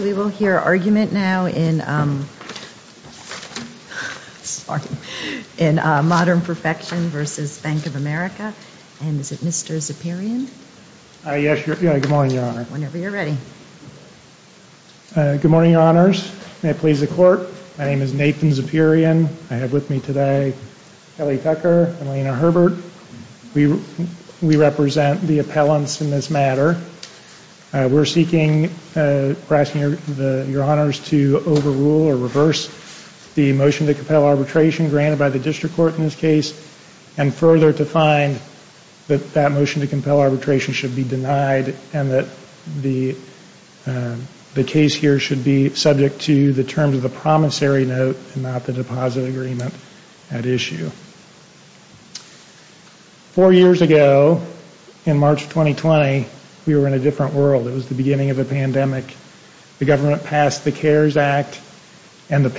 We will hear argument now in Modern Perfection v. Bank of America, and is it Mr. Zapirian? Yes, good morning, Your Honor. Whenever you're ready. Good morning, Your Honors. May it please the Court. My name is Nathan Zapirian. I have with me today Kelly Tucker and Lena Herbert. We represent the appellants in this matter. We're seeking, Your Honors, to overrule or reverse the motion to compel arbitration granted by the District Court in this case, and further to find that that motion to compel arbitration should be denied and that the case here should be subject to the terms of the promissory note and not the deposit agreement at issue. Four years ago, in March 2020, we were in a different world. It was the beginning of a pandemic. The government passed the CARES Act, and the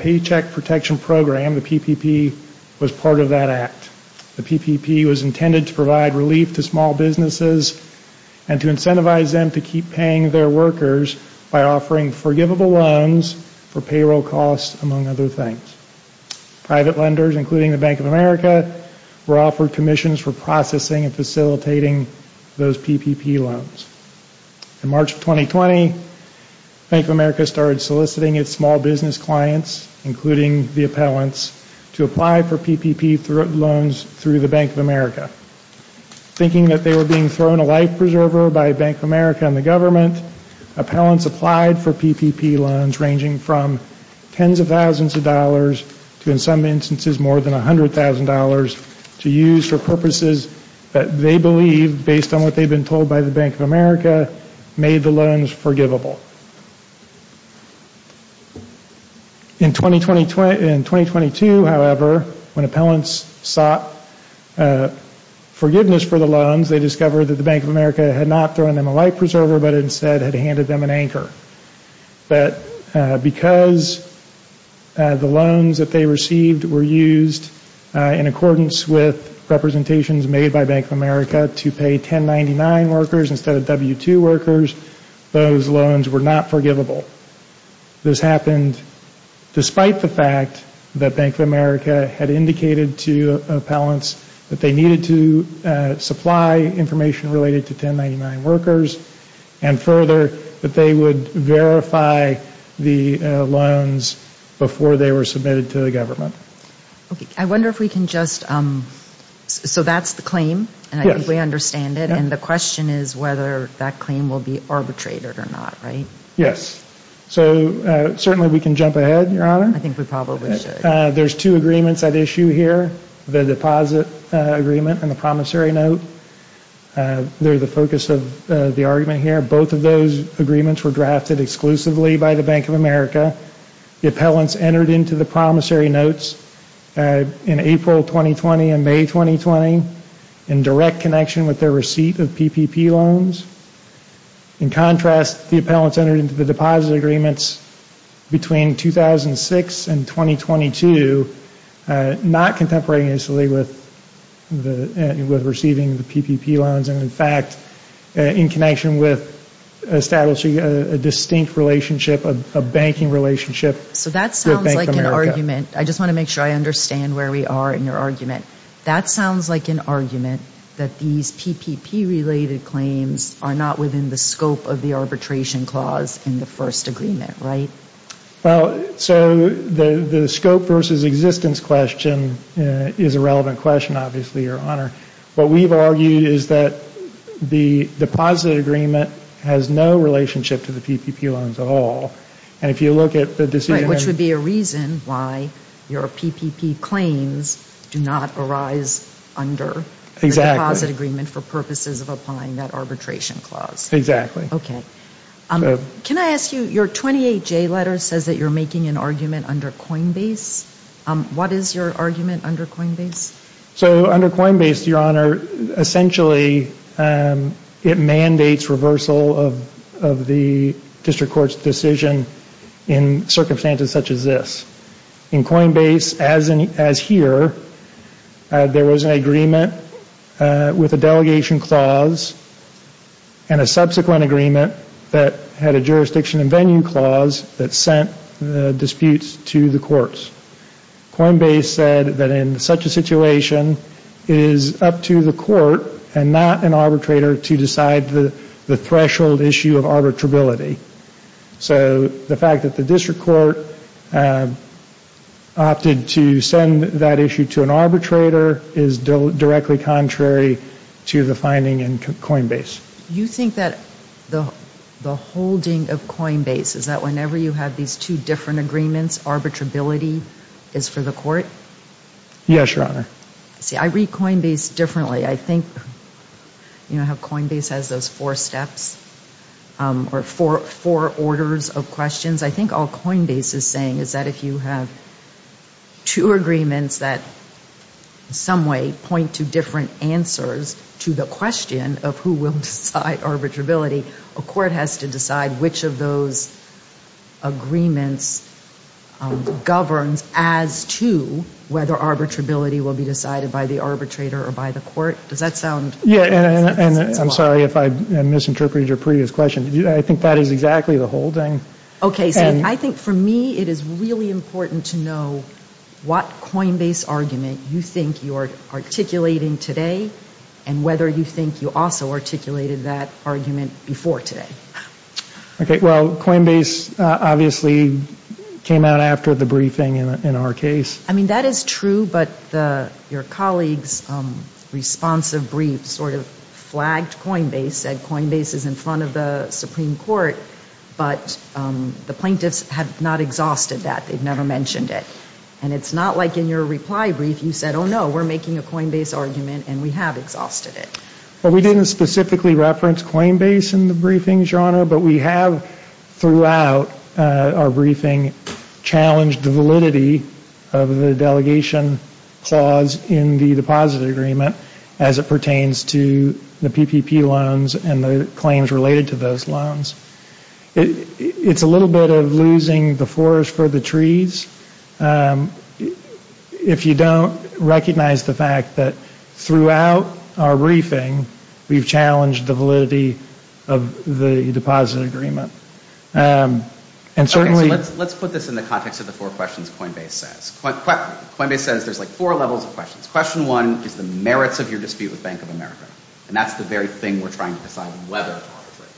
Paycheck Protection Program, the PPP, was part of that act. The PPP was intended to provide relief to small businesses and to incentivize them to keep paying their workers by offering forgivable loans for payroll costs, among other things. Private lenders, including the Bank of America, were offered commissions for processing and facilitating those PPP loans. In March of 2020, Bank of America started soliciting its small business clients, including the appellants, to apply for PPP loans through the Bank of America, thinking that they were being thrown a life preserver by Bank of America and the government. Appellants applied for PPP loans ranging from tens of thousands of dollars to, in some instances, more than $100,000 to use for purposes that they believed, based on what they had been told by the Bank of America, made the loans forgivable. In 2022, however, when appellants sought forgiveness for the loans, they discovered that the Bank of America had not thrown them a life preserver, but instead had handed them an anchor. Because the loans that they received were used in accordance with representations made by Bank of America to pay 1099 workers instead of W2 workers, those loans were not forgivable. This happened despite the fact that Bank of America had indicated to appellants that they needed to supply information related to 1099 workers, and further, that they would verify the loans before they were submitted to the government. I wonder if we can just, so that's the claim, and I think we understand it, and the question is whether that claim will be arbitrated or not, right? Yes. So certainly we can jump ahead, Your Honor. I think we probably should. There's two agreements at issue here, the deposit agreement and the promissory note. They're the focus of the argument here. Both of those agreements were drafted exclusively in April 2020 and May 2020 in direct connection with their receipt of PPP loans. In contrast, the appellants entered into the deposit agreements between 2006 and 2022 not contemporaneously with receiving the PPP loans, and in fact, in connection with establishing a distinct relationship, a banking relationship with Bank of America. I just want to make sure I understand where we are in your argument. That sounds like an argument that these PPP-related claims are not within the scope of the arbitration clause in the first agreement, right? Well, so the scope versus existence question is a relevant question, obviously, Your Honor. What we've argued is that the deposit agreement has no relationship to the PPP loans at all. And if you look at the decision... Right, which would be a reason why your PPP claims do not arise under the deposit agreement for purposes of applying that arbitration clause. Exactly. Okay. Can I ask you, your 28J letter says that you're making an argument under Coinbase. What is your argument under Coinbase? So under Coinbase, Your Honor, essentially it mandates reversal of the district court's decision in circumstances such as this. In Coinbase, as here, there was an agreement with a delegation clause and a subsequent agreement that had a jurisdiction and venue clause that sent the disputes to the courts. Coinbase said that in such a situation, it is up to the court and not an arbitrator to decide the threshold issue of arbitrability. So the fact that the district court opted to send that issue to an arbitrator is directly contrary to the finding in Coinbase. You think that the holding of Coinbase is that whenever you have these two different agreements, arbitrability is for the court? Yes, Your Honor. See, I read Coinbase differently. I think, you know, how Coinbase has those four steps or four orders of questions. I think all Coinbase is saying is that if you have two agreements that in some way point to different answers to the question of who will decide arbitrability, a court has to decide which of those agreements governs as to whether arbitrability will be decided by the arbitrator or by the court. Does that sound... Yes, and I'm sorry if I misinterpreted your previous question. I think that is exactly the holding. Okay. So I think for me, it is really important to know what Coinbase argument you think you are articulating today and whether you think you also articulated that argument before today. Well, Coinbase obviously came out after the briefing in our case. I mean, that is true, but your colleague's responsive brief sort of flagged Coinbase, said Coinbase is in front of the Supreme Court, but the plaintiffs have not exhausted that. They've never mentioned it. And it's not like in your reply brief you said, oh, no, we're making a Coinbase argument and we have exhausted it. Well, we didn't specifically reference Coinbase in the briefing, Your Honor, but we have throughout our briefing challenged the validity of the delegation clause in the deposit agreement as it pertains to the PPP loans and the claims related to those loans. It's a little bit of losing the forest for the trees. If you don't recognize the fact that throughout our briefing, we've challenged the validity of the deposit agreement. And certainly... Okay, so let's put this in the context of the four questions Coinbase says. Coinbase says there's like four levels of questions. Question one is the merits of your dispute with Bank of America. And that's the very thing we're trying to decide whether to arbitrate.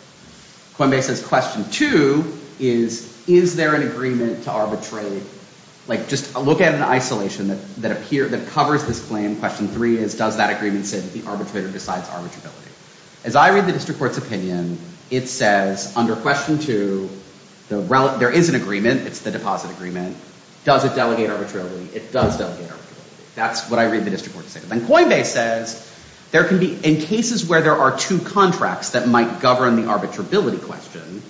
Coinbase says question two is, is there an agreement to arbitrate? Like just look at an isolation that covers this claim. Question three is, does that agreement say that the arbitrator decides arbitrability? As I read the district court's opinion, it says under question two, there is an agreement. It's the deposit agreement. Does it delegate arbitrability? It does delegate arbitrability. That's what I read the district court's opinion. Then Coinbase says there can be... In cases where there are two contracts that might govern the arbitrability question,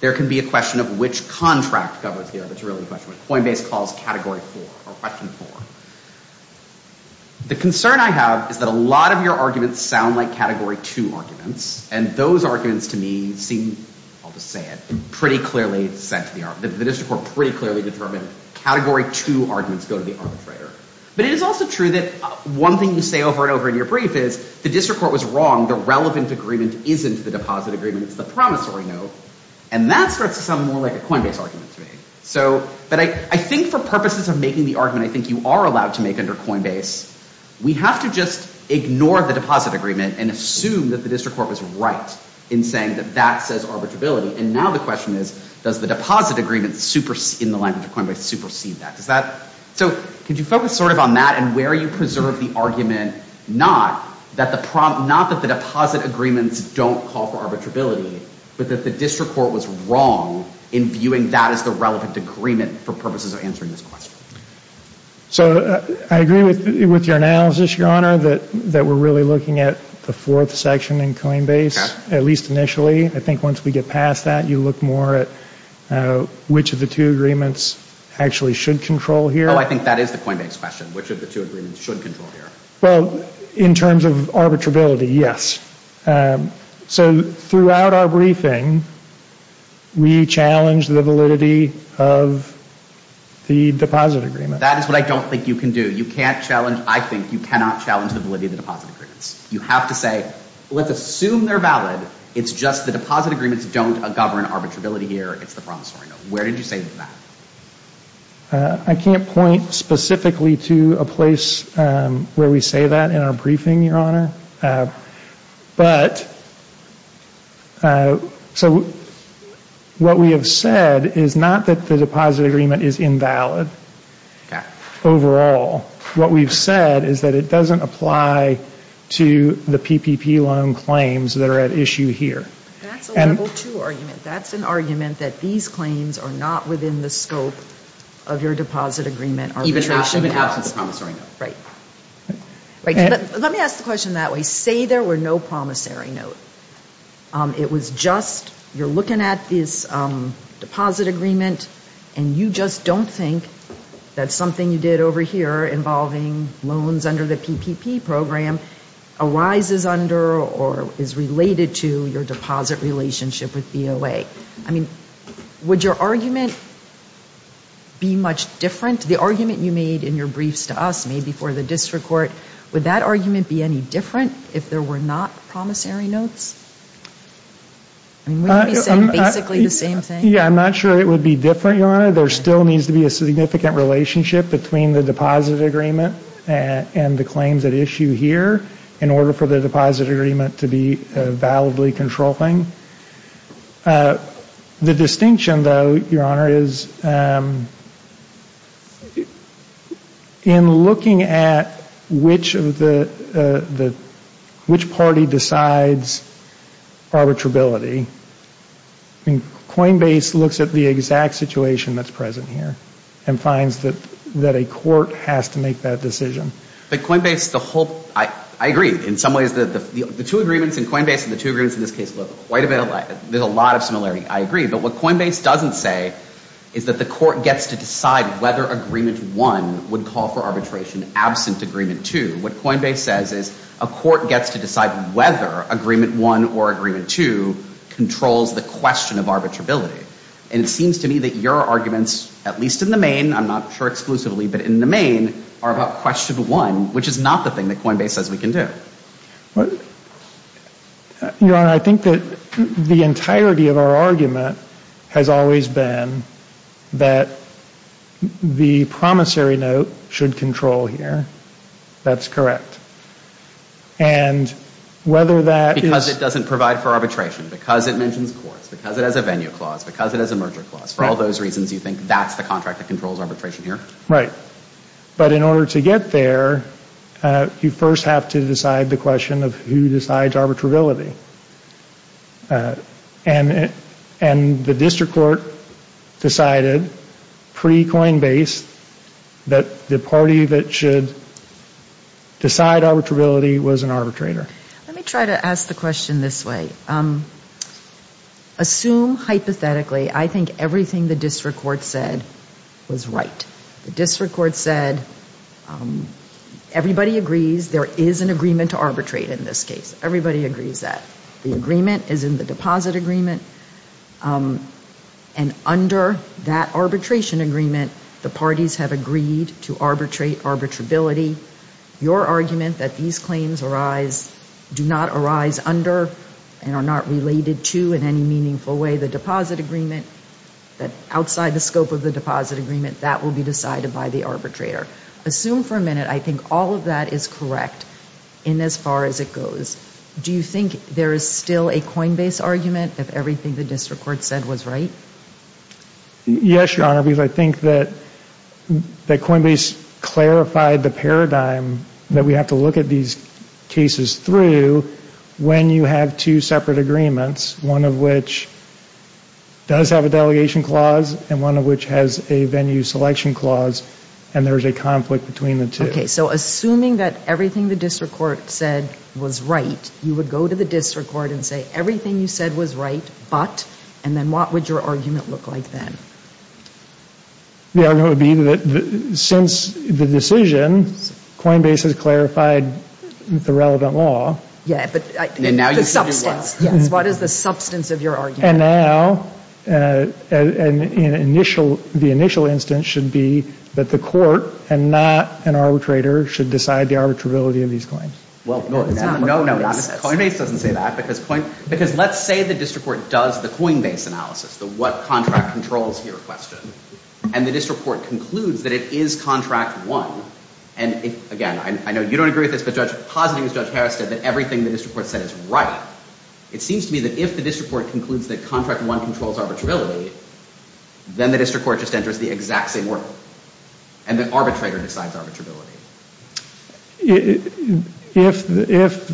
there can be a question of which contract governs the arbitrability question, which Coinbase calls category four or question four. The concern I have is that a lot of your arguments sound like category two arguments. And those arguments to me seem... I'll just say it. Pretty clearly sent to the... The district court pretty clearly determined category two arguments go to the arbitrator. But it is also true that one thing you say over and over in your brief is, the district court was wrong. The relevant agreement isn't the deposit agreement. It's the promissory note. And that starts to sound more like a Coinbase argument to me. So... But I think for purposes of making the argument I think you are allowed to make under Coinbase, we have to just ignore the deposit agreement and assume that the district court was right in saying that that says arbitrability. And now the question is, does the deposit agreement in the language of Coinbase supersede that? Does that... So could you focus sort of on that and where you preserve the argument, not that the deposit agreements don't call for arbitrability, but that the district court was wrong in viewing that as the relevant agreement for purposes of answering this question. So I agree with your analysis, Your Honor, that we are really looking at the fourth section in Coinbase, at least initially. I think once we get past that, you look more at which of the two agreements actually should control here. Although I think that is the Coinbase question, which of the two agreements should control here. Well, in terms of arbitrability, yes. So throughout our briefing, we challenge the validity of the deposit agreement. That is what I don't think you can do. You can't challenge... I think you cannot challenge the validity of the deposit agreements. You have to say, let's assume they're valid. It's just the deposit agreements don't govern arbitrability here. It's the promissory note. Where did you say that? I can't point specifically to a place where we say that in our briefing, Your Honor. What we have said is not that the deposit agreement is invalid overall. What we've said is that it doesn't apply to the PPP loan claims that are at issue here. That's a level two argument. That's an argument that these claims are not within the scope of your deposit agreement arbitration at all. Even if it has a promissory note. Right. Let me ask the question that way. Say there were no promissory note. It was just you're looking at this deposit agreement, and you just don't think that something you did over here involving loans under the PPP program arises under or is related to your deposit relationship with DOA. I mean, would your argument be much different? The argument you made in your briefs to us made before the district court, would that argument be any different if there were not promissory notes? Would you be saying basically the same thing? Yeah, I'm not sure it would be different, Your Honor. Your Honor, there still needs to be a significant relationship between the deposit agreement and the claims at issue here in order for the deposit agreement to be validly controlling. The distinction, though, Your Honor, is in looking at which party decides arbitrability, I mean, Coinbase looks at the exact situation that's present here and finds that a court has to make that decision. But Coinbase, the whole, I agree in some ways that the two agreements in Coinbase and the two agreements in this case look quite a bit alike. There's a lot of similarity. I agree. But what Coinbase doesn't say is that the court gets to decide whether Agreement 1 would call for arbitration absent Agreement 2. What Coinbase says is a court gets to decide whether Agreement 1 or Agreement 2 controls the question of arbitrability. And it seems to me that your arguments, at least in the main, I'm not sure exclusively, but in the main are about Question 1, which is not the thing that Coinbase says we can do. Your Honor, I think that the entirety of our argument has always been that the promissory note should control here. That's correct. And whether that is... Because it doesn't provide for arbitration. Because it mentions courts. Because it has a venue clause. Because it has a merger clause. For all those reasons, you think that's the contract that controls arbitration here? Right. But in order to get there, you first have to decide the question of who decides arbitrability. And the district court decided, pre-Coinbase, that the party that should decide arbitrability was an arbitrator. Let me try to ask the question this way. Assume, hypothetically, I think everything the district court said was right. The district court said everybody agrees there is an agreement to arbitrate in this case. Everybody agrees that. The agreement is in the deposit agreement. And under that arbitration agreement, the parties have agreed to arbitrate arbitrability. Your argument that these claims arise, do not arise under, and are not related to in any meaningful way the deposit agreement, that outside the scope of the deposit agreement, that will be decided by the arbitrator. Assume for a minute I think all of that is correct in as far as it goes. Do you think there is still a Coinbase argument if everything the district court said was right? Yes, Your Honor, because I think that Coinbase clarified the paradigm that we have to look at these cases through when you have two separate agreements, one of which does have a delegation clause, and one of which has a venue selection clause, and there is a conflict between the two. Okay, so assuming that everything the district court said was right, you would go to the district court and say everything you said was right, but, and then what would your argument look like then? The argument would be that since the decision, Coinbase has clarified the relevant law. Yes, but the substance. Yes, what is the substance of your argument? And now the initial instance should be that the court and not an arbitrator should decide the arbitrability of these claims. Well, no, Coinbase doesn't say that because let's say the district court does the Coinbase analysis, the what contract controls here question, and the district court concludes that it is contract one, and again, I know you don't agree with this, but positing as Judge Harris said that everything the district court said is right, it seems to me that if the district court concludes that contract one controls arbitrability, then the district court just enters the exact same world, and the arbitrator decides arbitrability. If, if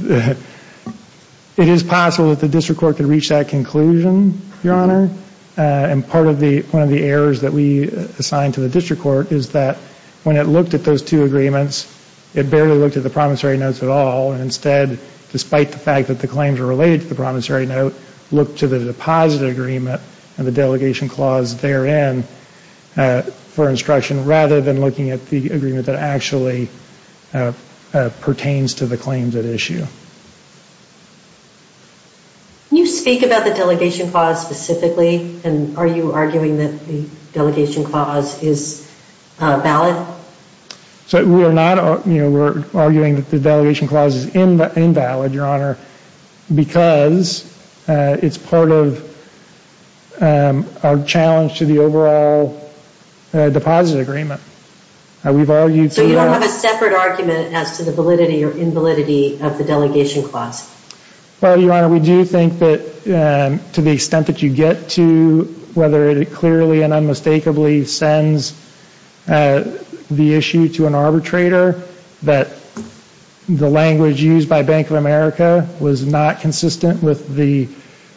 it is possible that the district court could reach that conclusion, Your Honor, and part of the, one of the errors that we assigned to the district court is that when it looked at those two agreements, it barely looked at the promissory notes at all, and instead, despite the fact that the claims are related to the promissory note, looked to the deposit agreement and the delegation clause therein for instruction rather than looking at the agreement that actually pertains to the claims at issue. Can you speak about the delegation clause specifically, and are you arguing that the delegation clause is valid? So we are not, you know, we're arguing that the delegation clause is invalid, Your Honor, because it's part of our challenge to the overall deposit agreement. We've argued through that. So you don't have a separate argument as to the validity or invalidity of the delegation clause? Well, Your Honor, we do think that to the extent that you get to, whether it clearly and unmistakably sends the issue to an arbitrator, that the language used by Bank of America was not consistent with the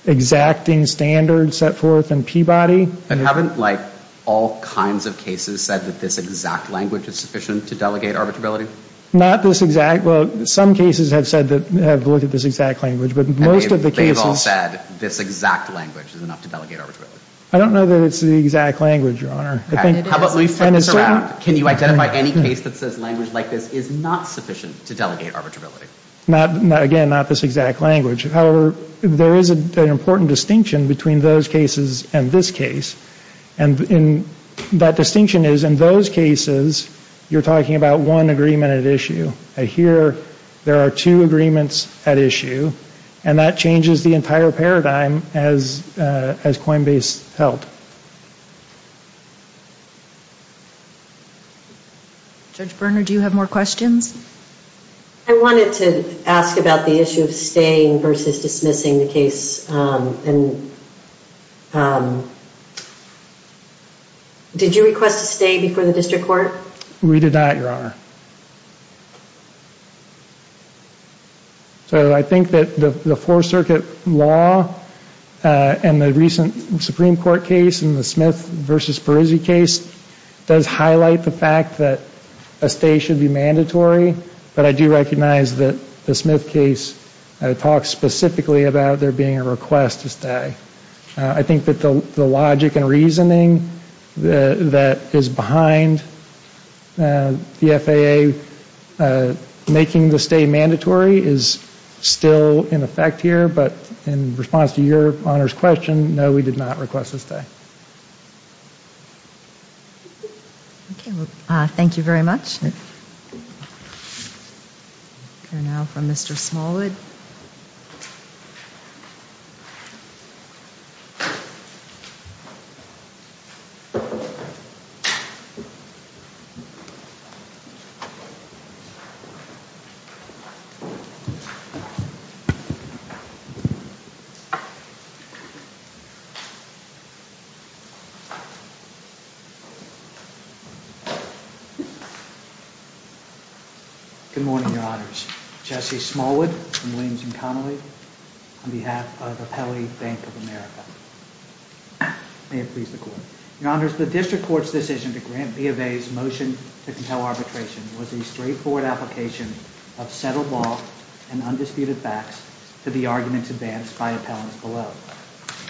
exacting standards set forth in Peabody. And haven't, like, all kinds of cases said that this exact language is sufficient to delegate arbitrability? Not this exact. Well, some cases have said that, have looked at this exact language, but most of the cases. I don't know that it's the exact language, Your Honor. How about we flip this around? Can you identify any case that says language like this is not sufficient to delegate arbitrability? Again, not this exact language. However, there is an important distinction between those cases and this case, and that distinction is in those cases you're talking about one agreement at issue. Here, there are two agreements at issue, and that changes the entire paradigm as Coinbase held. Judge Berner, do you have more questions? I wanted to ask about the issue of staying versus dismissing the case. Did you request a stay before the district court? We did not, Your Honor. So I think that the Fourth Circuit law and the recent Supreme Court case and the Smith v. Perizzi case does highlight the fact that a stay should be mandatory, but I do recognize that the Smith case talks specifically about there being a request to stay. I think that the logic and reasoning that is behind the FAA making the stay mandatory is still in effect here, but in response to Your Honor's question, no, we did not request a stay. Thank you very much. We'll hear now from Mr. Smallwood. Thank you. Good morning, Your Honors. Jesse Smallwood from Williams & Connolly on behalf of Appellee Bank of America. May it please the Court. Your Honors, the district court's decision to grant B of A's motion to compel arbitration was a straightforward application of settled law and undisputed facts to the arguments advanced by appellants below.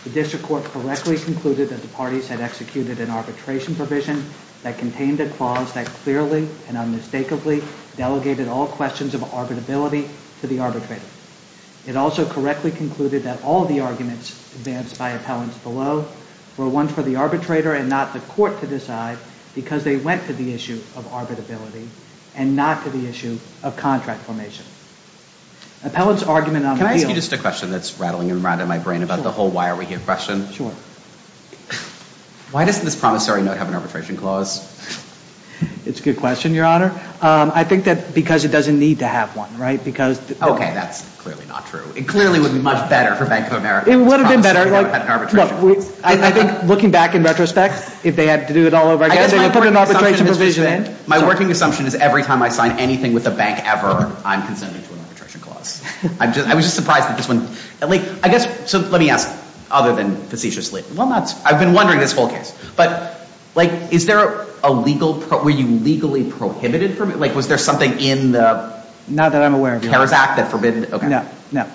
The district court correctly concluded that the parties had executed an arbitration provision that contained a clause that clearly and unmistakably delegated all questions of arbitrability to the arbitrator. It also correctly concluded that all of the arguments advanced by appellants below were ones for the arbitrator and not the court to decide because they went to the issue of arbitrability and not to the issue of contract formation. Appellant's argument on the deal— Can I ask you just a question that's rattling around in my brain about the whole why are we here question? Sure. Why doesn't this promissory note have an arbitration clause? It's a good question, Your Honor. I think that because it doesn't need to have one, right? Okay, that's clearly not true. It clearly would be much better for Bank of America. It would have been better. I think looking back in retrospect, if they had to do it all over again, they would put an arbitration provision in. My working assumption is every time I sign anything with a bank ever, I'm consented to an arbitration clause. I was just surprised that this one— I guess—so let me ask, other than facetiously. I've been wondering this whole case. But, like, is there a legal—were you legally prohibited from—like, was there something in the— Not that I'm aware of, Your Honor. CARES Act that forbidden—okay. No, no.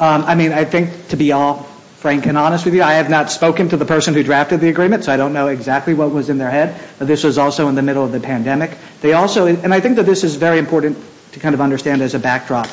I mean, I think, to be all frank and honest with you, I have not spoken to the person who drafted the agreement, so I don't know exactly what was in their head, but this was also in the middle of the pandemic. They also—and I think that this is very important to kind of understand as a backdrop.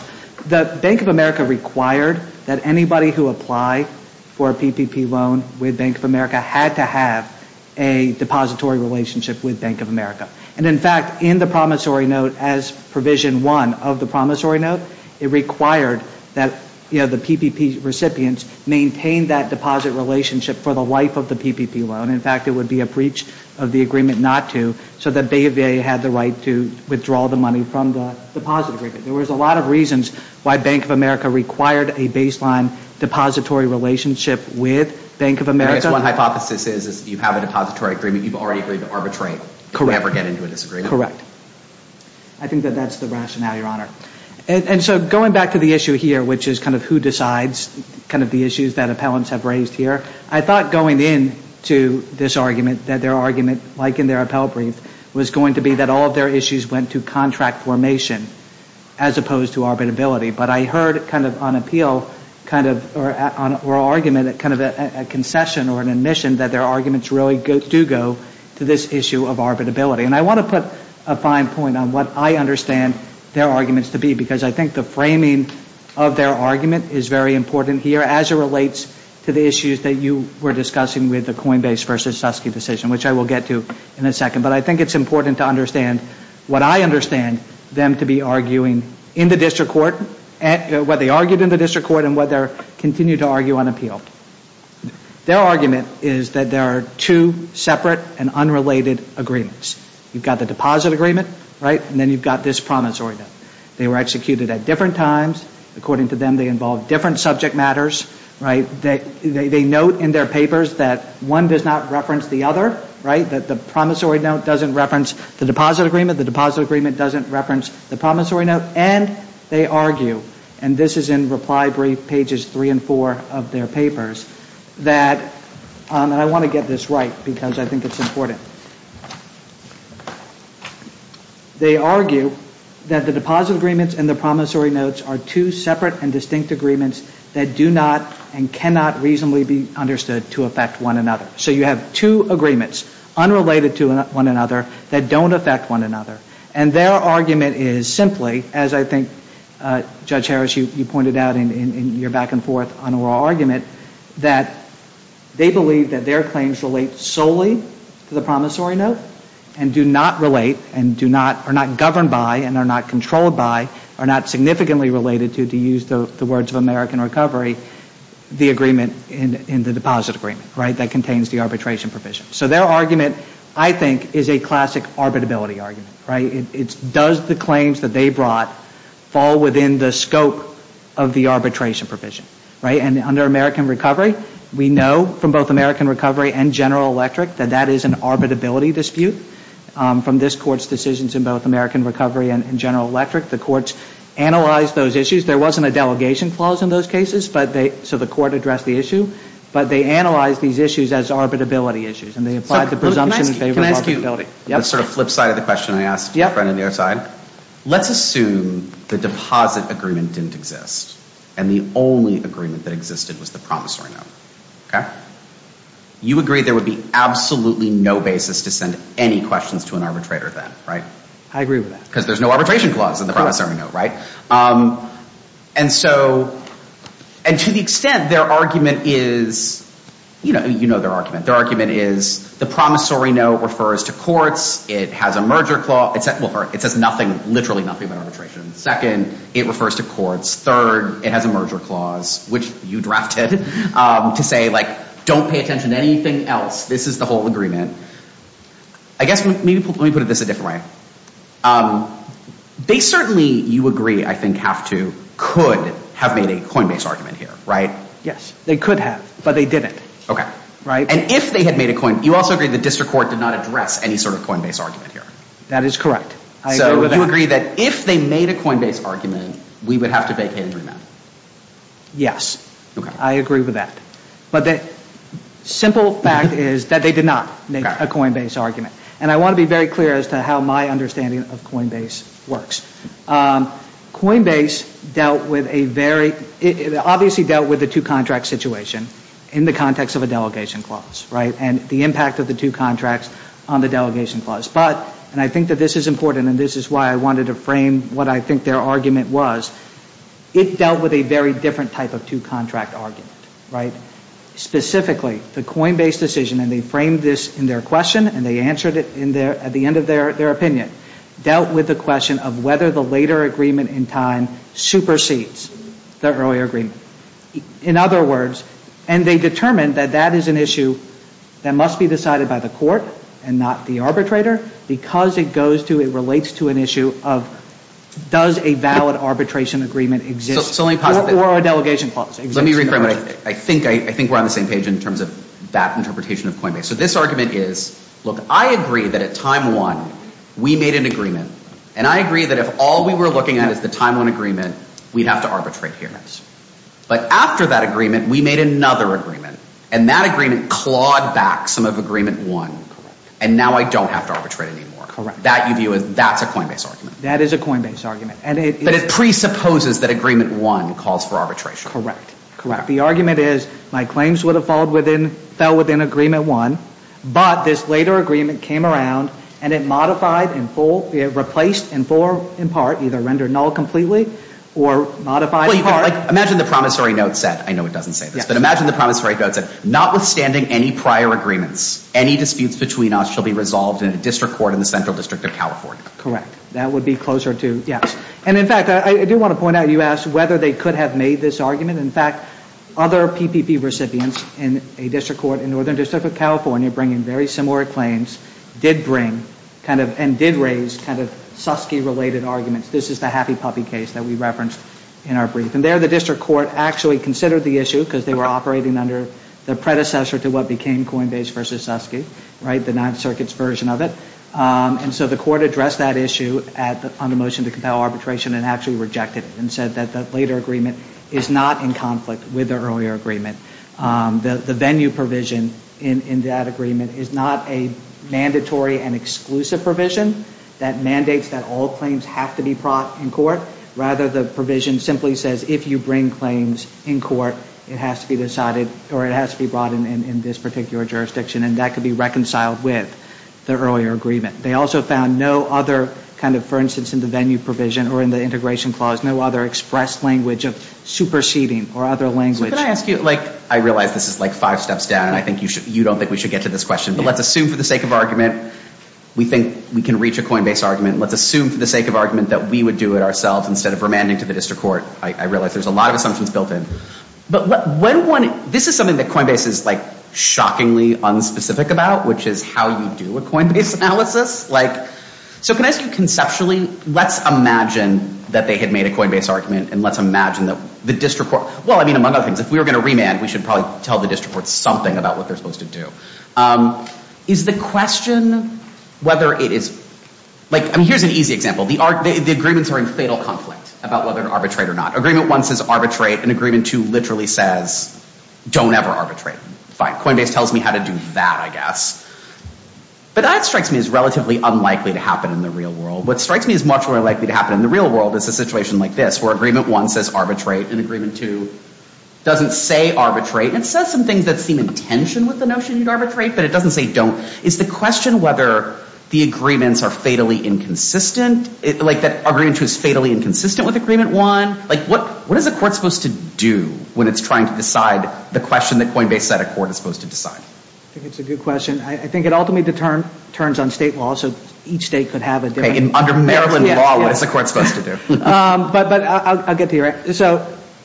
The Bank of America required that anybody who applied for a PPP loan with Bank of America had to have a depository relationship with Bank of America. And, in fact, in the promissory note, as provision one of the promissory note, it required that, you know, the PPP recipients maintain that deposit relationship for the life of the PPP loan. In fact, it would be a breach of the agreement not to, so that they had the right to withdraw the money from the deposit agreement. There was a lot of reasons why Bank of America required a baseline depository relationship with Bank of America. I guess one hypothesis is you have a depository agreement, you've already agreed to arbitrate. Correct. You never get into a disagreement. Correct. I think that that's the rationale, Your Honor. And so going back to the issue here, which is kind of who decides kind of the issues that appellants have raised here, I thought going into this argument that their argument, like in their appellate brief, was going to be that all of their issues went to contract formation as opposed to arbitrability. But I heard kind of on appeal, kind of, or argument at kind of a concession or an admission that their arguments really do go to this issue of arbitrability. And I want to put a fine point on what I understand their arguments to be, because I think the framing of their argument is very important here as it relates to the issues that you were discussing with the Coinbase versus Susky decision, which I will get to in a second. But I think it's important to understand what I understand them to be arguing in the district court, what they argued in the district court, and what they continue to argue on appeal. Their argument is that there are two separate and unrelated agreements. You've got the deposit agreement, right, and then you've got this promissory note. They were executed at different times. According to them, they involved different subject matters, right. They note in their papers that one does not reference the other, right, that the promissory note doesn't reference the deposit agreement, the deposit agreement doesn't reference the promissory note, and they argue, and this is in reply brief pages three and four of their papers, that, and I want to get this right because I think it's important. They argue that the deposit agreements and the promissory notes are two separate and distinct agreements that do not and cannot reasonably be understood to affect one another. So you have two agreements, unrelated to one another, that don't affect one another. And their argument is simply, as I think, Judge Harris, you pointed out in your back and forth on oral argument, that they believe that their claims relate solely to the promissory note and do not relate and do not, are not governed by and are not controlled by, are not significantly related to, to use the words of American Recovery, the agreement in the deposit agreement, right, that contains the arbitration provision. So their argument, I think, is a classic arbitrability argument, right. It's does the claims that they brought fall within the scope of the arbitration provision, right. And under American Recovery, we know from both American Recovery and General Electric that that is an arbitrability dispute from this Court's decisions in both American Recovery and General Electric. The courts analyzed those issues. There wasn't a delegation clause in those cases, but they, so the court addressed the issue, but they analyzed these issues as arbitrability issues and they applied the presumption in favor of arbitrability. Can I ask you the sort of flip side of the question I asked your friend on the other side? Let's assume the deposit agreement didn't exist and the only agreement that existed was the promissory note, okay. You agree there would be absolutely no basis to send any questions to an arbitrator then, right. I agree with that. Because there's no arbitration clause in the promissory note, right. And so, and to the extent their argument is, you know, you know their argument. Their argument is the promissory note refers to courts. It has a merger clause. It says nothing, literally nothing about arbitration. Second, it refers to courts. Third, it has a merger clause, which you drafted to say like don't pay attention to anything else. This is the whole agreement. I guess maybe, let me put it this a different way. They certainly, you agree, I think have to, could have made a coinbase argument here, right? Yes, they could have, but they didn't. Okay. And if they had made a coin, you also agree the district court did not address any sort of coinbase argument here. That is correct. So you agree that if they made a coinbase argument, we would have to vacate and remand? Yes. Okay. I agree with that. But the simple fact is that they did not make a coinbase argument. And I want to be very clear as to how my understanding of coinbase works. Coinbase dealt with a very, it obviously dealt with the two contract situation in the context of a delegation clause, right? And the impact of the two contracts on the delegation clause. But, and I think that this is important and this is why I wanted to frame what I think their argument was, it dealt with a very different type of two contract argument, right? Specifically, the coinbase decision, and they framed this in their question and they answered it at the end of their opinion, dealt with the question of whether the later agreement in time supersedes the earlier agreement. In other words, and they determined that that is an issue that must be decided by the court and not the arbitrator, because it goes to, it relates to an issue of does a valid arbitration agreement exist or a delegation clause exist? Let me rephrase, I think we're on the same page in terms of that interpretation of coinbase. So this argument is, look, I agree that at time one, we made an agreement. And I agree that if all we were looking at is the time one agreement, we'd have to arbitrate here. But after that agreement, we made another agreement. And that agreement clawed back some of agreement one. And now I don't have to arbitrate anymore. That you view as, that's a coinbase argument. That is a coinbase argument. But it presupposes that agreement one calls for arbitration. Correct, correct. The argument is my claims would have fallen within, fell within agreement one. But this later agreement came around and it modified in full, it replaced in full or in part, either rendered null completely or modified in part. Imagine the promissory note said, I know it doesn't say this, but imagine the promissory note said, notwithstanding any prior agreements, any disputes between us shall be resolved in a district court in the central district of California. Correct. That would be closer to, yes. And in fact, I do want to point out, you asked whether they could have made this argument. In fact, other PPP recipients in a district court in northern district of California bringing very similar claims did bring kind of, and did raise kind of, Suskie-related arguments. This is the Happy Puppy case that we referenced in our brief. And there the district court actually considered the issue because they were operating under the predecessor to what became Coinbase versus Suskie. Right? The Ninth Circuit's version of it. And so the court addressed that issue on the motion to compel arbitration and actually rejected it and said that the later agreement is not in conflict with the earlier agreement. The venue provision in that agreement is not a mandatory and exclusive provision that mandates that all claims have to be brought in court. Rather, the provision simply says if you bring claims in court, it has to be decided, or it has to be brought in this particular jurisdiction. And that could be reconciled with the earlier agreement. They also found no other kind of, for instance, in the venue provision or in the integration clause, no other expressed language of superseding or other language. Can I ask you, like, I realize this is like five steps down, and I think you don't think we should get to this question, but let's assume for the sake of argument we think we can reach a Coinbase argument. Let's assume for the sake of argument that we would do it ourselves instead of remanding to the district court. I realize there's a lot of assumptions built in. But when one, this is something that Coinbase is like shockingly unspecific about, which is how you do a Coinbase analysis. Like, so can I ask you conceptually, let's imagine that they had made a Coinbase argument, and let's imagine that the district court, well, I mean, among other things, if we were going to remand, we should probably tell the district court something about what they're supposed to do. Is the question whether it is, like, I mean, here's an easy example. The agreements are in fatal conflict about whether to arbitrate or not. Agreement one says arbitrate, and agreement two literally says don't ever arbitrate. Fine. Coinbase tells me how to do that, I guess. But that strikes me as relatively unlikely to happen in the real world. What strikes me as much more likely to happen in the real world is a situation like this, where agreement one says arbitrate, and agreement two doesn't say arbitrate. It says some things that seem in tension with the notion you'd arbitrate, but it doesn't say don't. Is the question whether the agreements are fatally inconsistent, like, that agreement two is fatally inconsistent with agreement one? Like, what is the court supposed to do when it's trying to decide the question that Coinbase said a court is supposed to decide? I think it's a good question. I think it ultimately turns on state law, so each state could have a different answer. Okay, under Maryland law, what is the court supposed to do? But I'll get to you. So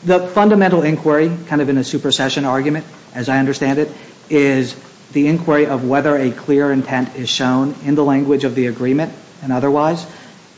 the fundamental inquiry, kind of in a supersession argument, as I understand it, is the inquiry of whether a clear intent is shown in the language of the agreement and otherwise,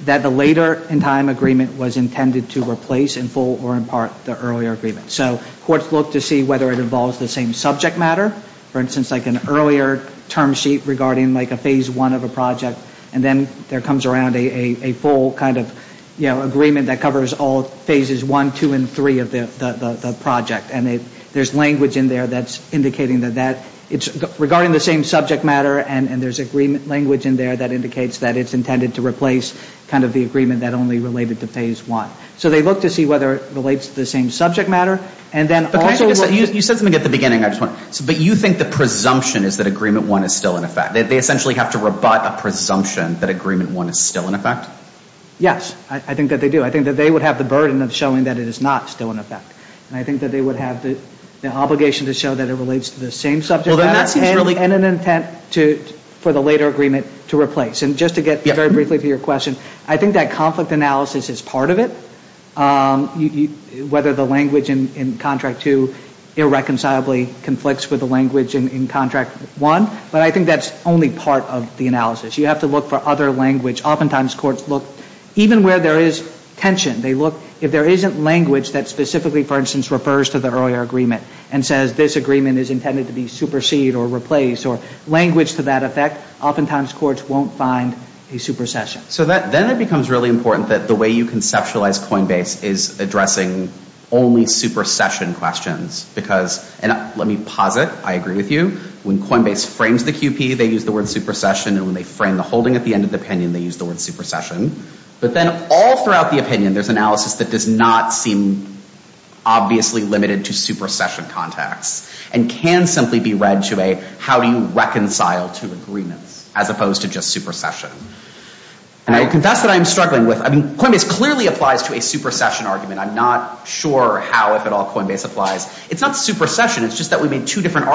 that the later in time agreement was intended to replace in full or in part the earlier agreement. So courts look to see whether it involves the same subject matter. For instance, like an earlier term sheet regarding, like, a phase one of a project, and then there comes around a full kind of, you know, agreement that covers all phases one, two, and three of the project. And there's language in there that's indicating that that, it's regarding the same subject matter, and there's agreement language in there that indicates that it's intended to replace kind of the agreement that only related to phase one. So they look to see whether it relates to the same subject matter, and then also... You said something at the beginning, I just want to, but you think the presumption is that agreement one is still in effect? They essentially have to rebut a presumption that agreement one is still in effect? Yes, I think that they do. I think that they would have the burden of showing that it is not still in effect. And I think that they would have the obligation to show that it relates to the same subject matter and an intent for the later agreement to replace. And just to get very briefly to your question, I think that conflict analysis is part of it, whether the language in contract two irreconcilably conflicts with the language in contract one. But I think that's only part of the analysis. You have to look for other language. Oftentimes courts look, even where there is tension, they look, if there isn't language that specifically, for instance, refers to the earlier agreement and says this agreement is intended to be supersede or replace or language to that effect, oftentimes courts won't find a supersession. So then it becomes really important that the way you conceptualize Coinbase is addressing only supersession questions. Because, and let me posit, I agree with you, when Coinbase frames the QP, they use the word supersession, and when they frame the holding at the end of the opinion, they use the word supersession. But then all throughout the opinion, there's analysis that does not seem obviously limited to supersession context and can simply be read to a how do you reconcile two agreements as opposed to just supersession. And I confess that I'm struggling with, I mean, Coinbase clearly applies to a supersession argument. I'm not sure how, if at all, Coinbase applies. It's not supersession, it's just that we made two different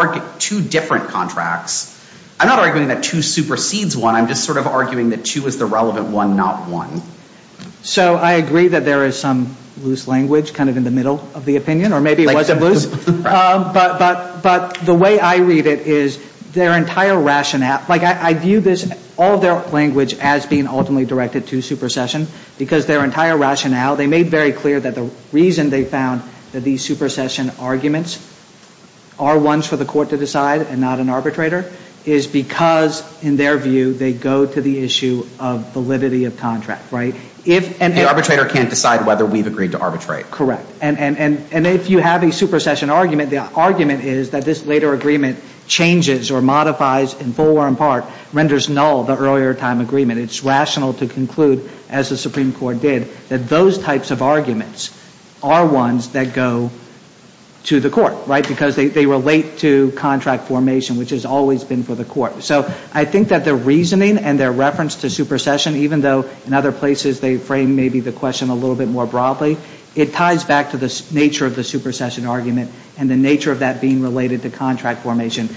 contracts. I'm not arguing that two supersedes one, I'm just sort of arguing that two is the relevant one, not one. So I agree that there is some loose language kind of in the middle of the opinion, or maybe it wasn't loose. But the way I read it is their entire rationale, like I view this, all their language as being ultimately directed to supersession because their entire rationale, they made very clear that the reason they found that these supersession arguments are ones for the court to decide and not an arbitrator is because, in their view, they go to the issue of validity of contract. The arbitrator can't decide whether we've agreed to arbitrate. Correct. And if you have a supersession argument, the argument is that this later agreement changes or modifies in full or in part, renders null the earlier time agreement. It's rational to conclude, as the Supreme Court did, that those types of arguments are ones that go to the court, right? Because they relate to contract formation, which has always been for the court. So I think that their reasoning and their reference to supersession, even though in other places they frame maybe the question a little bit more broadly, it ties back to the nature of the supersession argument and the nature of that being related to contract formation.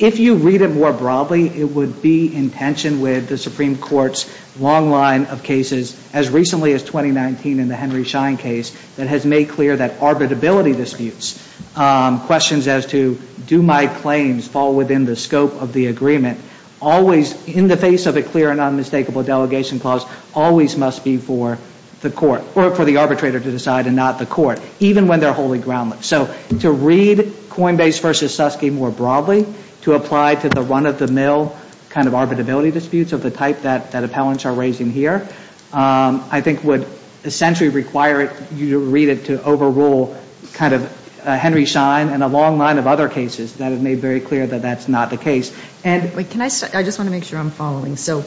If you read it more broadly, it would be in tension with the Supreme Court's long line of cases as recently as 2019 in the Henry Schein case that has made clear that arbitrability disputes, questions as to do my claims fall within the scope of the agreement, always in the face of a clear and unmistakable delegation clause, always must be for the court, or for the arbitrator to decide and not the court, even when they're wholly groundless. So to read Coinbase v. Susky more broadly, to apply to the run-of-the-mill kind of arbitrability disputes of the type that appellants are raising here, I think would essentially require you to read it to overrule kind of Henry Schein and a long line of other cases that have made very clear that that's not the case. And ‑‑ Can I ‑‑ I just want to make sure I'm following. So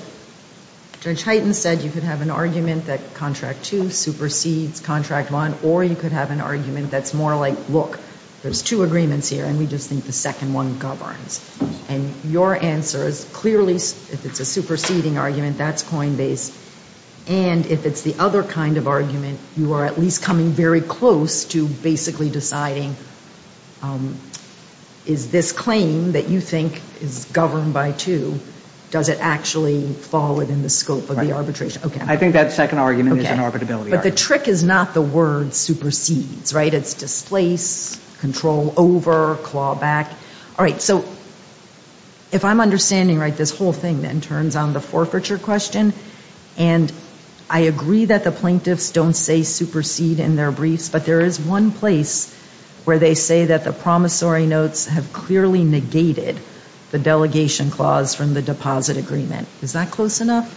Judge Hyten said you could have an argument that Contract 2 supersedes Contract 1, or you could have an argument that's more like, look, there's two agreements here, and we just think the second one governs. And your answer is clearly, if it's a superseding argument, that's Coinbase. And if it's the other kind of argument, you are at least coming very close to basically deciding, is this claim that you think is governed by 2, does it actually fall within the scope of the arbitration? I think that second argument is an arbitrability argument. But the trick is not the word supersedes, right? It's displace, control over, claw back. All right. So if I'm understanding right, this whole thing then turns on the forfeiture question, and I agree that the plaintiffs don't say supersede in their briefs, but there is one place where they say that the promissory notes have clearly negated the delegation clause from the deposit agreement. Is that close enough?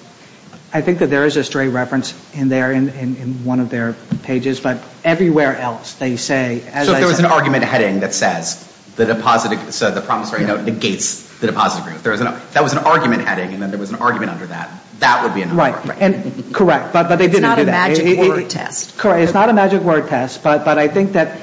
I think that there is a stray reference in there in one of their pages. But everywhere else they say, as I said. So if there was an argument heading that says the promissory note negates the deposit agreement, if that was an argument heading and then there was an argument under that, that would be enough. Right. Correct. But they didn't do that. It's not a magic word test. Correct. It's not a magic word test. But I think that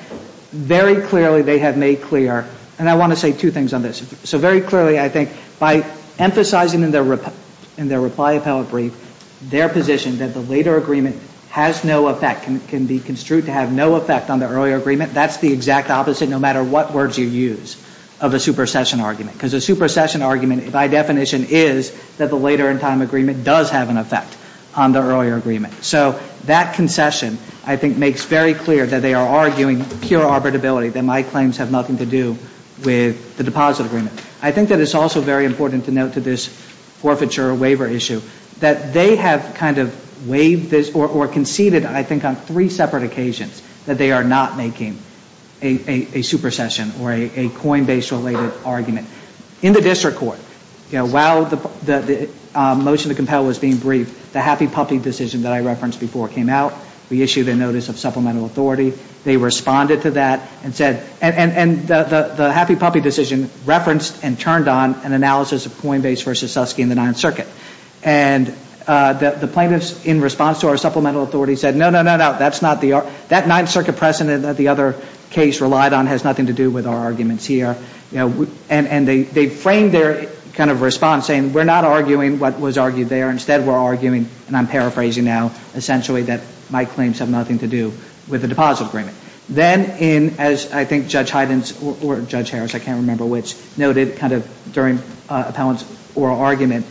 very clearly they have made clear, and I want to say two things on this. So very clearly I think by emphasizing in their reply appellate brief their position that the later agreement has no effect, can be construed to have no effect on the earlier agreement, that's the exact opposite no matter what words you use of a supersession argument. Because a supersession argument by definition is that the later in time agreement does have an effect on the earlier agreement. So that concession I think makes very clear that they are arguing pure arbitrability, that my claims have nothing to do with the deposit agreement. I think that it's also very important to note to this forfeiture waiver issue that they have kind of waived this or conceded I think on three separate occasions that they are not making a supersession or a coinbase related argument. In the district court, while the motion to compel was being briefed, the happy puppy decision that I referenced before came out. We issued a notice of supplemental authority. They responded to that and said, and the happy puppy decision referenced and turned on an analysis of coinbase versus Suskie in the Ninth Circuit. And the plaintiffs in response to our supplemental authority said no, no, no, no, that's not the, that Ninth Circuit precedent that the other case relied on has nothing to do with our arguments here. And they framed their kind of response saying we're not arguing what was argued there. Instead we're arguing, and I'm paraphrasing now, essentially that my claims have nothing to do with the deposit agreement. Then in, as I think Judge Hyden's or Judge Harris, I can't remember which, noted kind of during appellant's oral argument,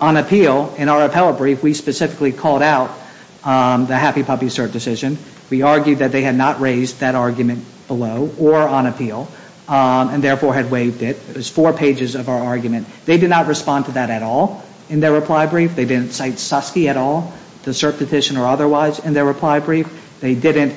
on appeal, in our appellate brief, we specifically called out the happy puppy cert decision. We argued that they had not raised that argument below or on appeal and therefore had waived it. It was four pages of our argument. They did not respond to that at all in their reply brief. They didn't cite Suskie at all, the cert petition or otherwise, in their reply brief. They didn't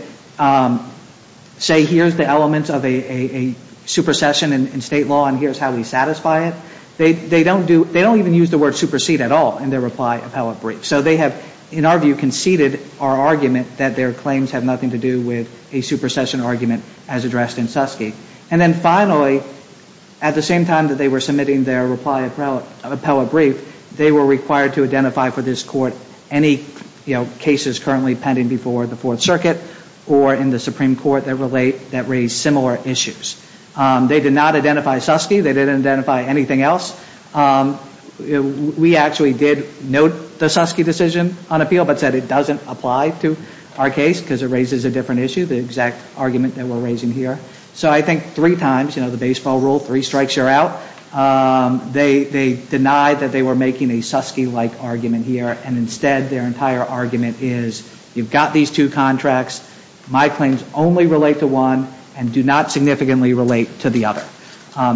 say here's the elements of a supersession in State law and here's how we satisfy it. They don't do, they don't even use the word supersede at all in their reply appellate brief. So they have, in our view, conceded our argument that their claims have nothing to do with a supersession argument as addressed in Suskie. And then finally, at the same time that they were submitting their reply appellate brief, they were required to identify for this court any cases currently pending before the Fourth Circuit or in the Supreme Court that relate, that raise similar issues. They did not identify Suskie. They didn't identify anything else. We actually did note the Suskie decision on appeal but said it doesn't apply to our case because it raises a different issue, the exact argument that we're raising here. So I think three times, you know, the baseball rule, three strikes, you're out. They denied that they were making a Suskie-like argument here. And instead, their entire argument is you've got these two contracts. My claims only relate to one and do not significantly relate to the other.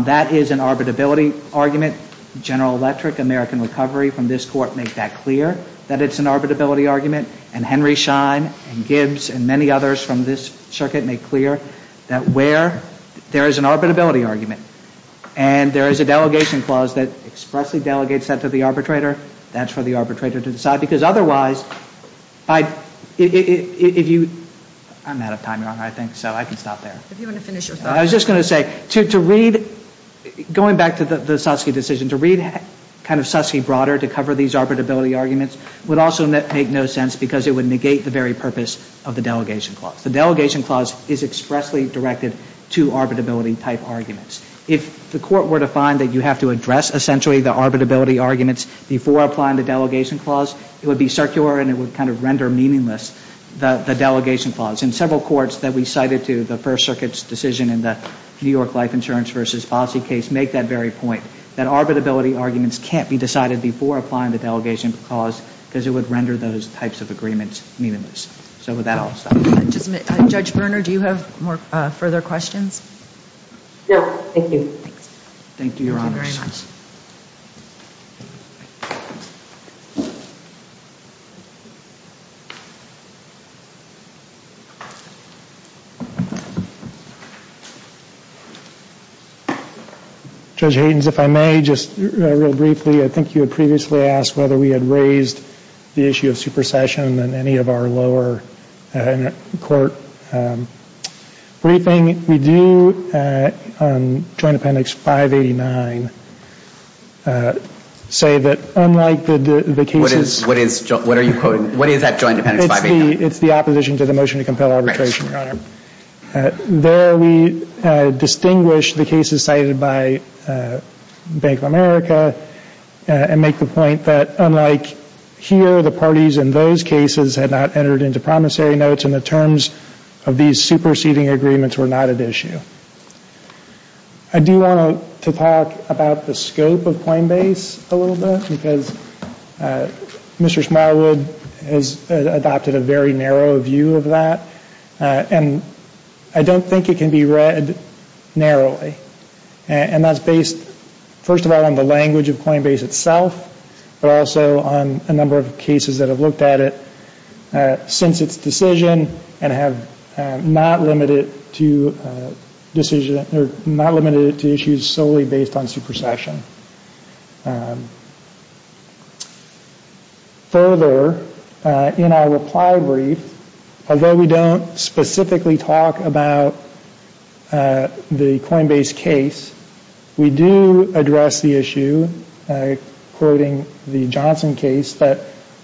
That is an arbitrability argument. General Electric, American Recovery from this court make that clear, that it's an arbitrability argument. And Henry Schein and Gibbs and many others from this circuit make clear that where there is an arbitrability argument and there is a delegation clause that expressly delegates that to the arbitrator, that's for the arbitrator to decide. Because otherwise, if you ‑‑ I'm out of time, Your Honor, I think, so I can stop there. If you want to finish your thought. I was just going to say, to read, going back to the Suskie decision, to read kind of Suskie broader to cover these arbitrability arguments would also make no sense because it would negate the very purpose of the delegation clause. The delegation clause is expressly directed to arbitrability-type arguments. If the court were to find that you have to address essentially the arbitrability arguments before applying the delegation clause, it would be circular and it would kind of render meaningless the delegation clause. And several courts that we cited to the First Circuit's decision in the New York Life Insurance v. Fossey case make that very point, that arbitrability arguments can't be decided before applying the delegation clause because it would render those types of agreements meaningless. So with that, I'll stop. Just a minute. Judge Berner, do you have further questions? No. Thank you. Thank you, Your Honors. Thank you very much. Judge Haydens, if I may, just real briefly, I think you had previously asked whether we had raised the issue of supersession in any of our lower court briefing. We do on Joint Appendix 589 say that unlike the cases— What is that Joint Appendix 589? It's the opposition to the motion to compel arbitration, Your Honor. There we distinguish the cases cited by Bank of America and make the point that unlike here, the parties in those cases had not entered into promissory notes and the terms of these superseding agreements were not at issue. I do want to talk about the scope of Coinbase a little bit because Mr. Smallwood has adopted a very narrow view of that and I don't think it can be read narrowly. And that's based, first of all, on the language of Coinbase itself but also on a number of cases that have looked at it since its decision and have not limited it to issues solely based on supersession. Further, in our reply brief, although we don't specifically talk about the Coinbase case, we do address the issue, quoting the Johnson case, that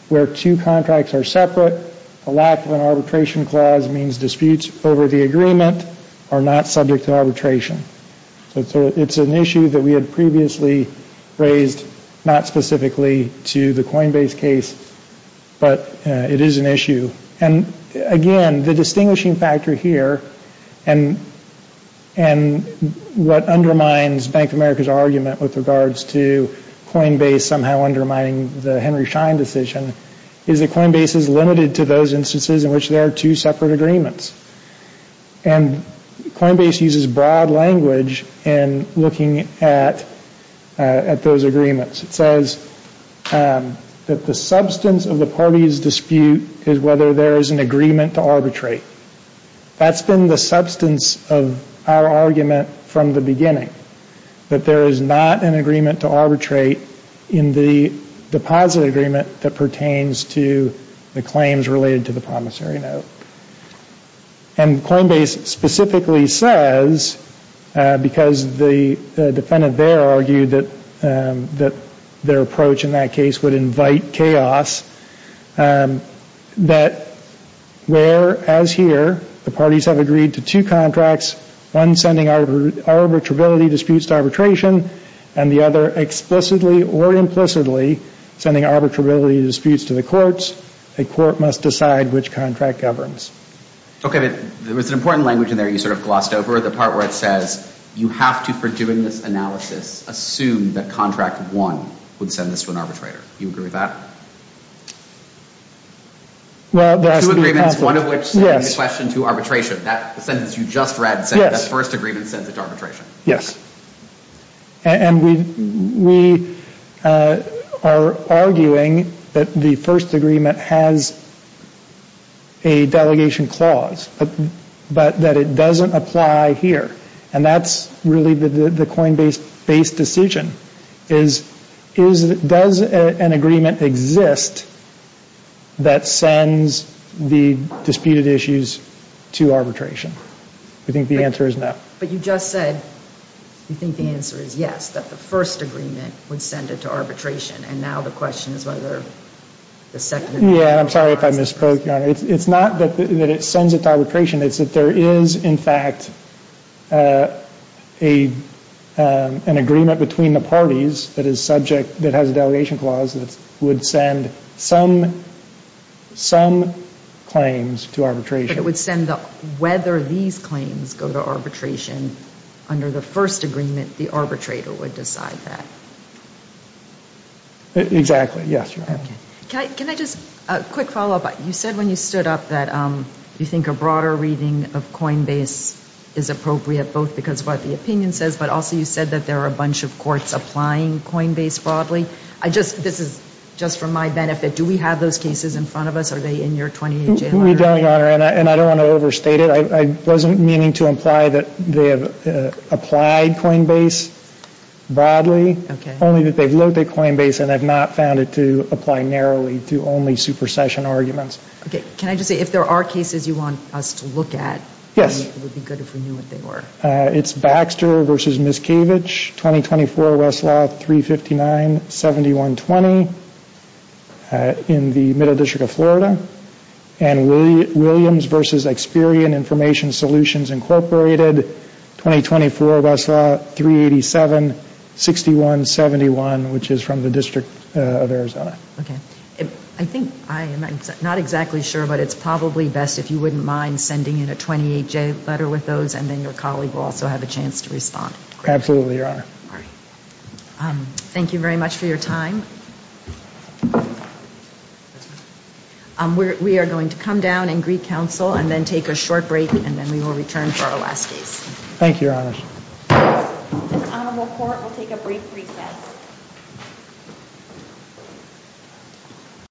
where two contracts are separate, a lack of an arbitration clause means disputes over the agreement are not subject to arbitration. So it's an issue that we had previously raised, not specifically to the Coinbase case, but it is an issue. And again, the distinguishing factor here and what undermines Bank of America's argument with regards to Coinbase somehow undermining the Henry Schein decision is that Coinbase is limited to those instances in which there are two separate agreements. And Coinbase uses broad language in looking at those agreements. It says that the substance of the party's dispute is whether there is an agreement to arbitrate. That's been the substance of our argument from the beginning, that there is not an agreement to arbitrate in the deposit agreement that pertains to the claims related to the promissory note. And Coinbase specifically says, because the defendant there argued that their approach in that case would invite chaos, that where, as here, the parties have agreed to two contracts, one sending arbitrability disputes to arbitration and the other explicitly or implicitly sending arbitrability disputes to the courts, a court must decide which contract governs. Okay, but there was an important language in there you sort of glossed over, the part where it says you have to, for doing this analysis, assume that contract one would send this to an arbitrator. Do you agree with that? Well, there has to be a conflict. Two agreements, one of which sending the question to arbitration. That sentence you just read said that first agreement sends it to arbitration. Yes. And we are arguing that the first agreement has a delegation clause, but that it doesn't apply here. And that's really the Coinbase-based decision, is does an agreement exist that sends the disputed issues to arbitration? I think the answer is no. But you just said you think the answer is yes, that the first agreement would send it to arbitration, and now the question is whether the second agreement applies. Yeah, I'm sorry if I mispronounced, Your Honor. It's not that it sends it to arbitration. It's that there is, in fact, an agreement between the parties that is subject, that has a delegation clause that would send some claims to arbitration. Whether these claims go to arbitration under the first agreement, the arbitrator would decide that. Exactly, yes, Your Honor. Can I just, a quick follow-up. You said when you stood up that you think a broader reading of Coinbase is appropriate, both because of what the opinion says, but also you said that there are a bunch of courts applying Coinbase broadly. This is just for my benefit. Do we have those cases in front of us? We don't, Your Honor, and I don't want to overstate it. I wasn't meaning to imply that they have applied Coinbase broadly, only that they've looked at Coinbase and have not found it to apply narrowly to only supersession arguments. Can I just say, if there are cases you want us to look at, it would be good if we knew what they were. Yes. It's Baxter v. Miscavige, 2024 Westlaw 359-7120, in the Middle District of Florida, and Williams v. Experian Information Solutions, Incorporated, 2024 Westlaw 387-6171, which is from the District of Arizona. Okay. I think, I'm not exactly sure, but it's probably best if you wouldn't mind sending in a 28-J letter with those and then your colleague will also have a chance to respond. Absolutely, Your Honor. All right. Thank you very much for your time. Yes, ma'am? We are going to come down and greet counsel and then take a short break and then we will return for our last case. Thank you, Your Honor. The Honorable Court will take a brief recess.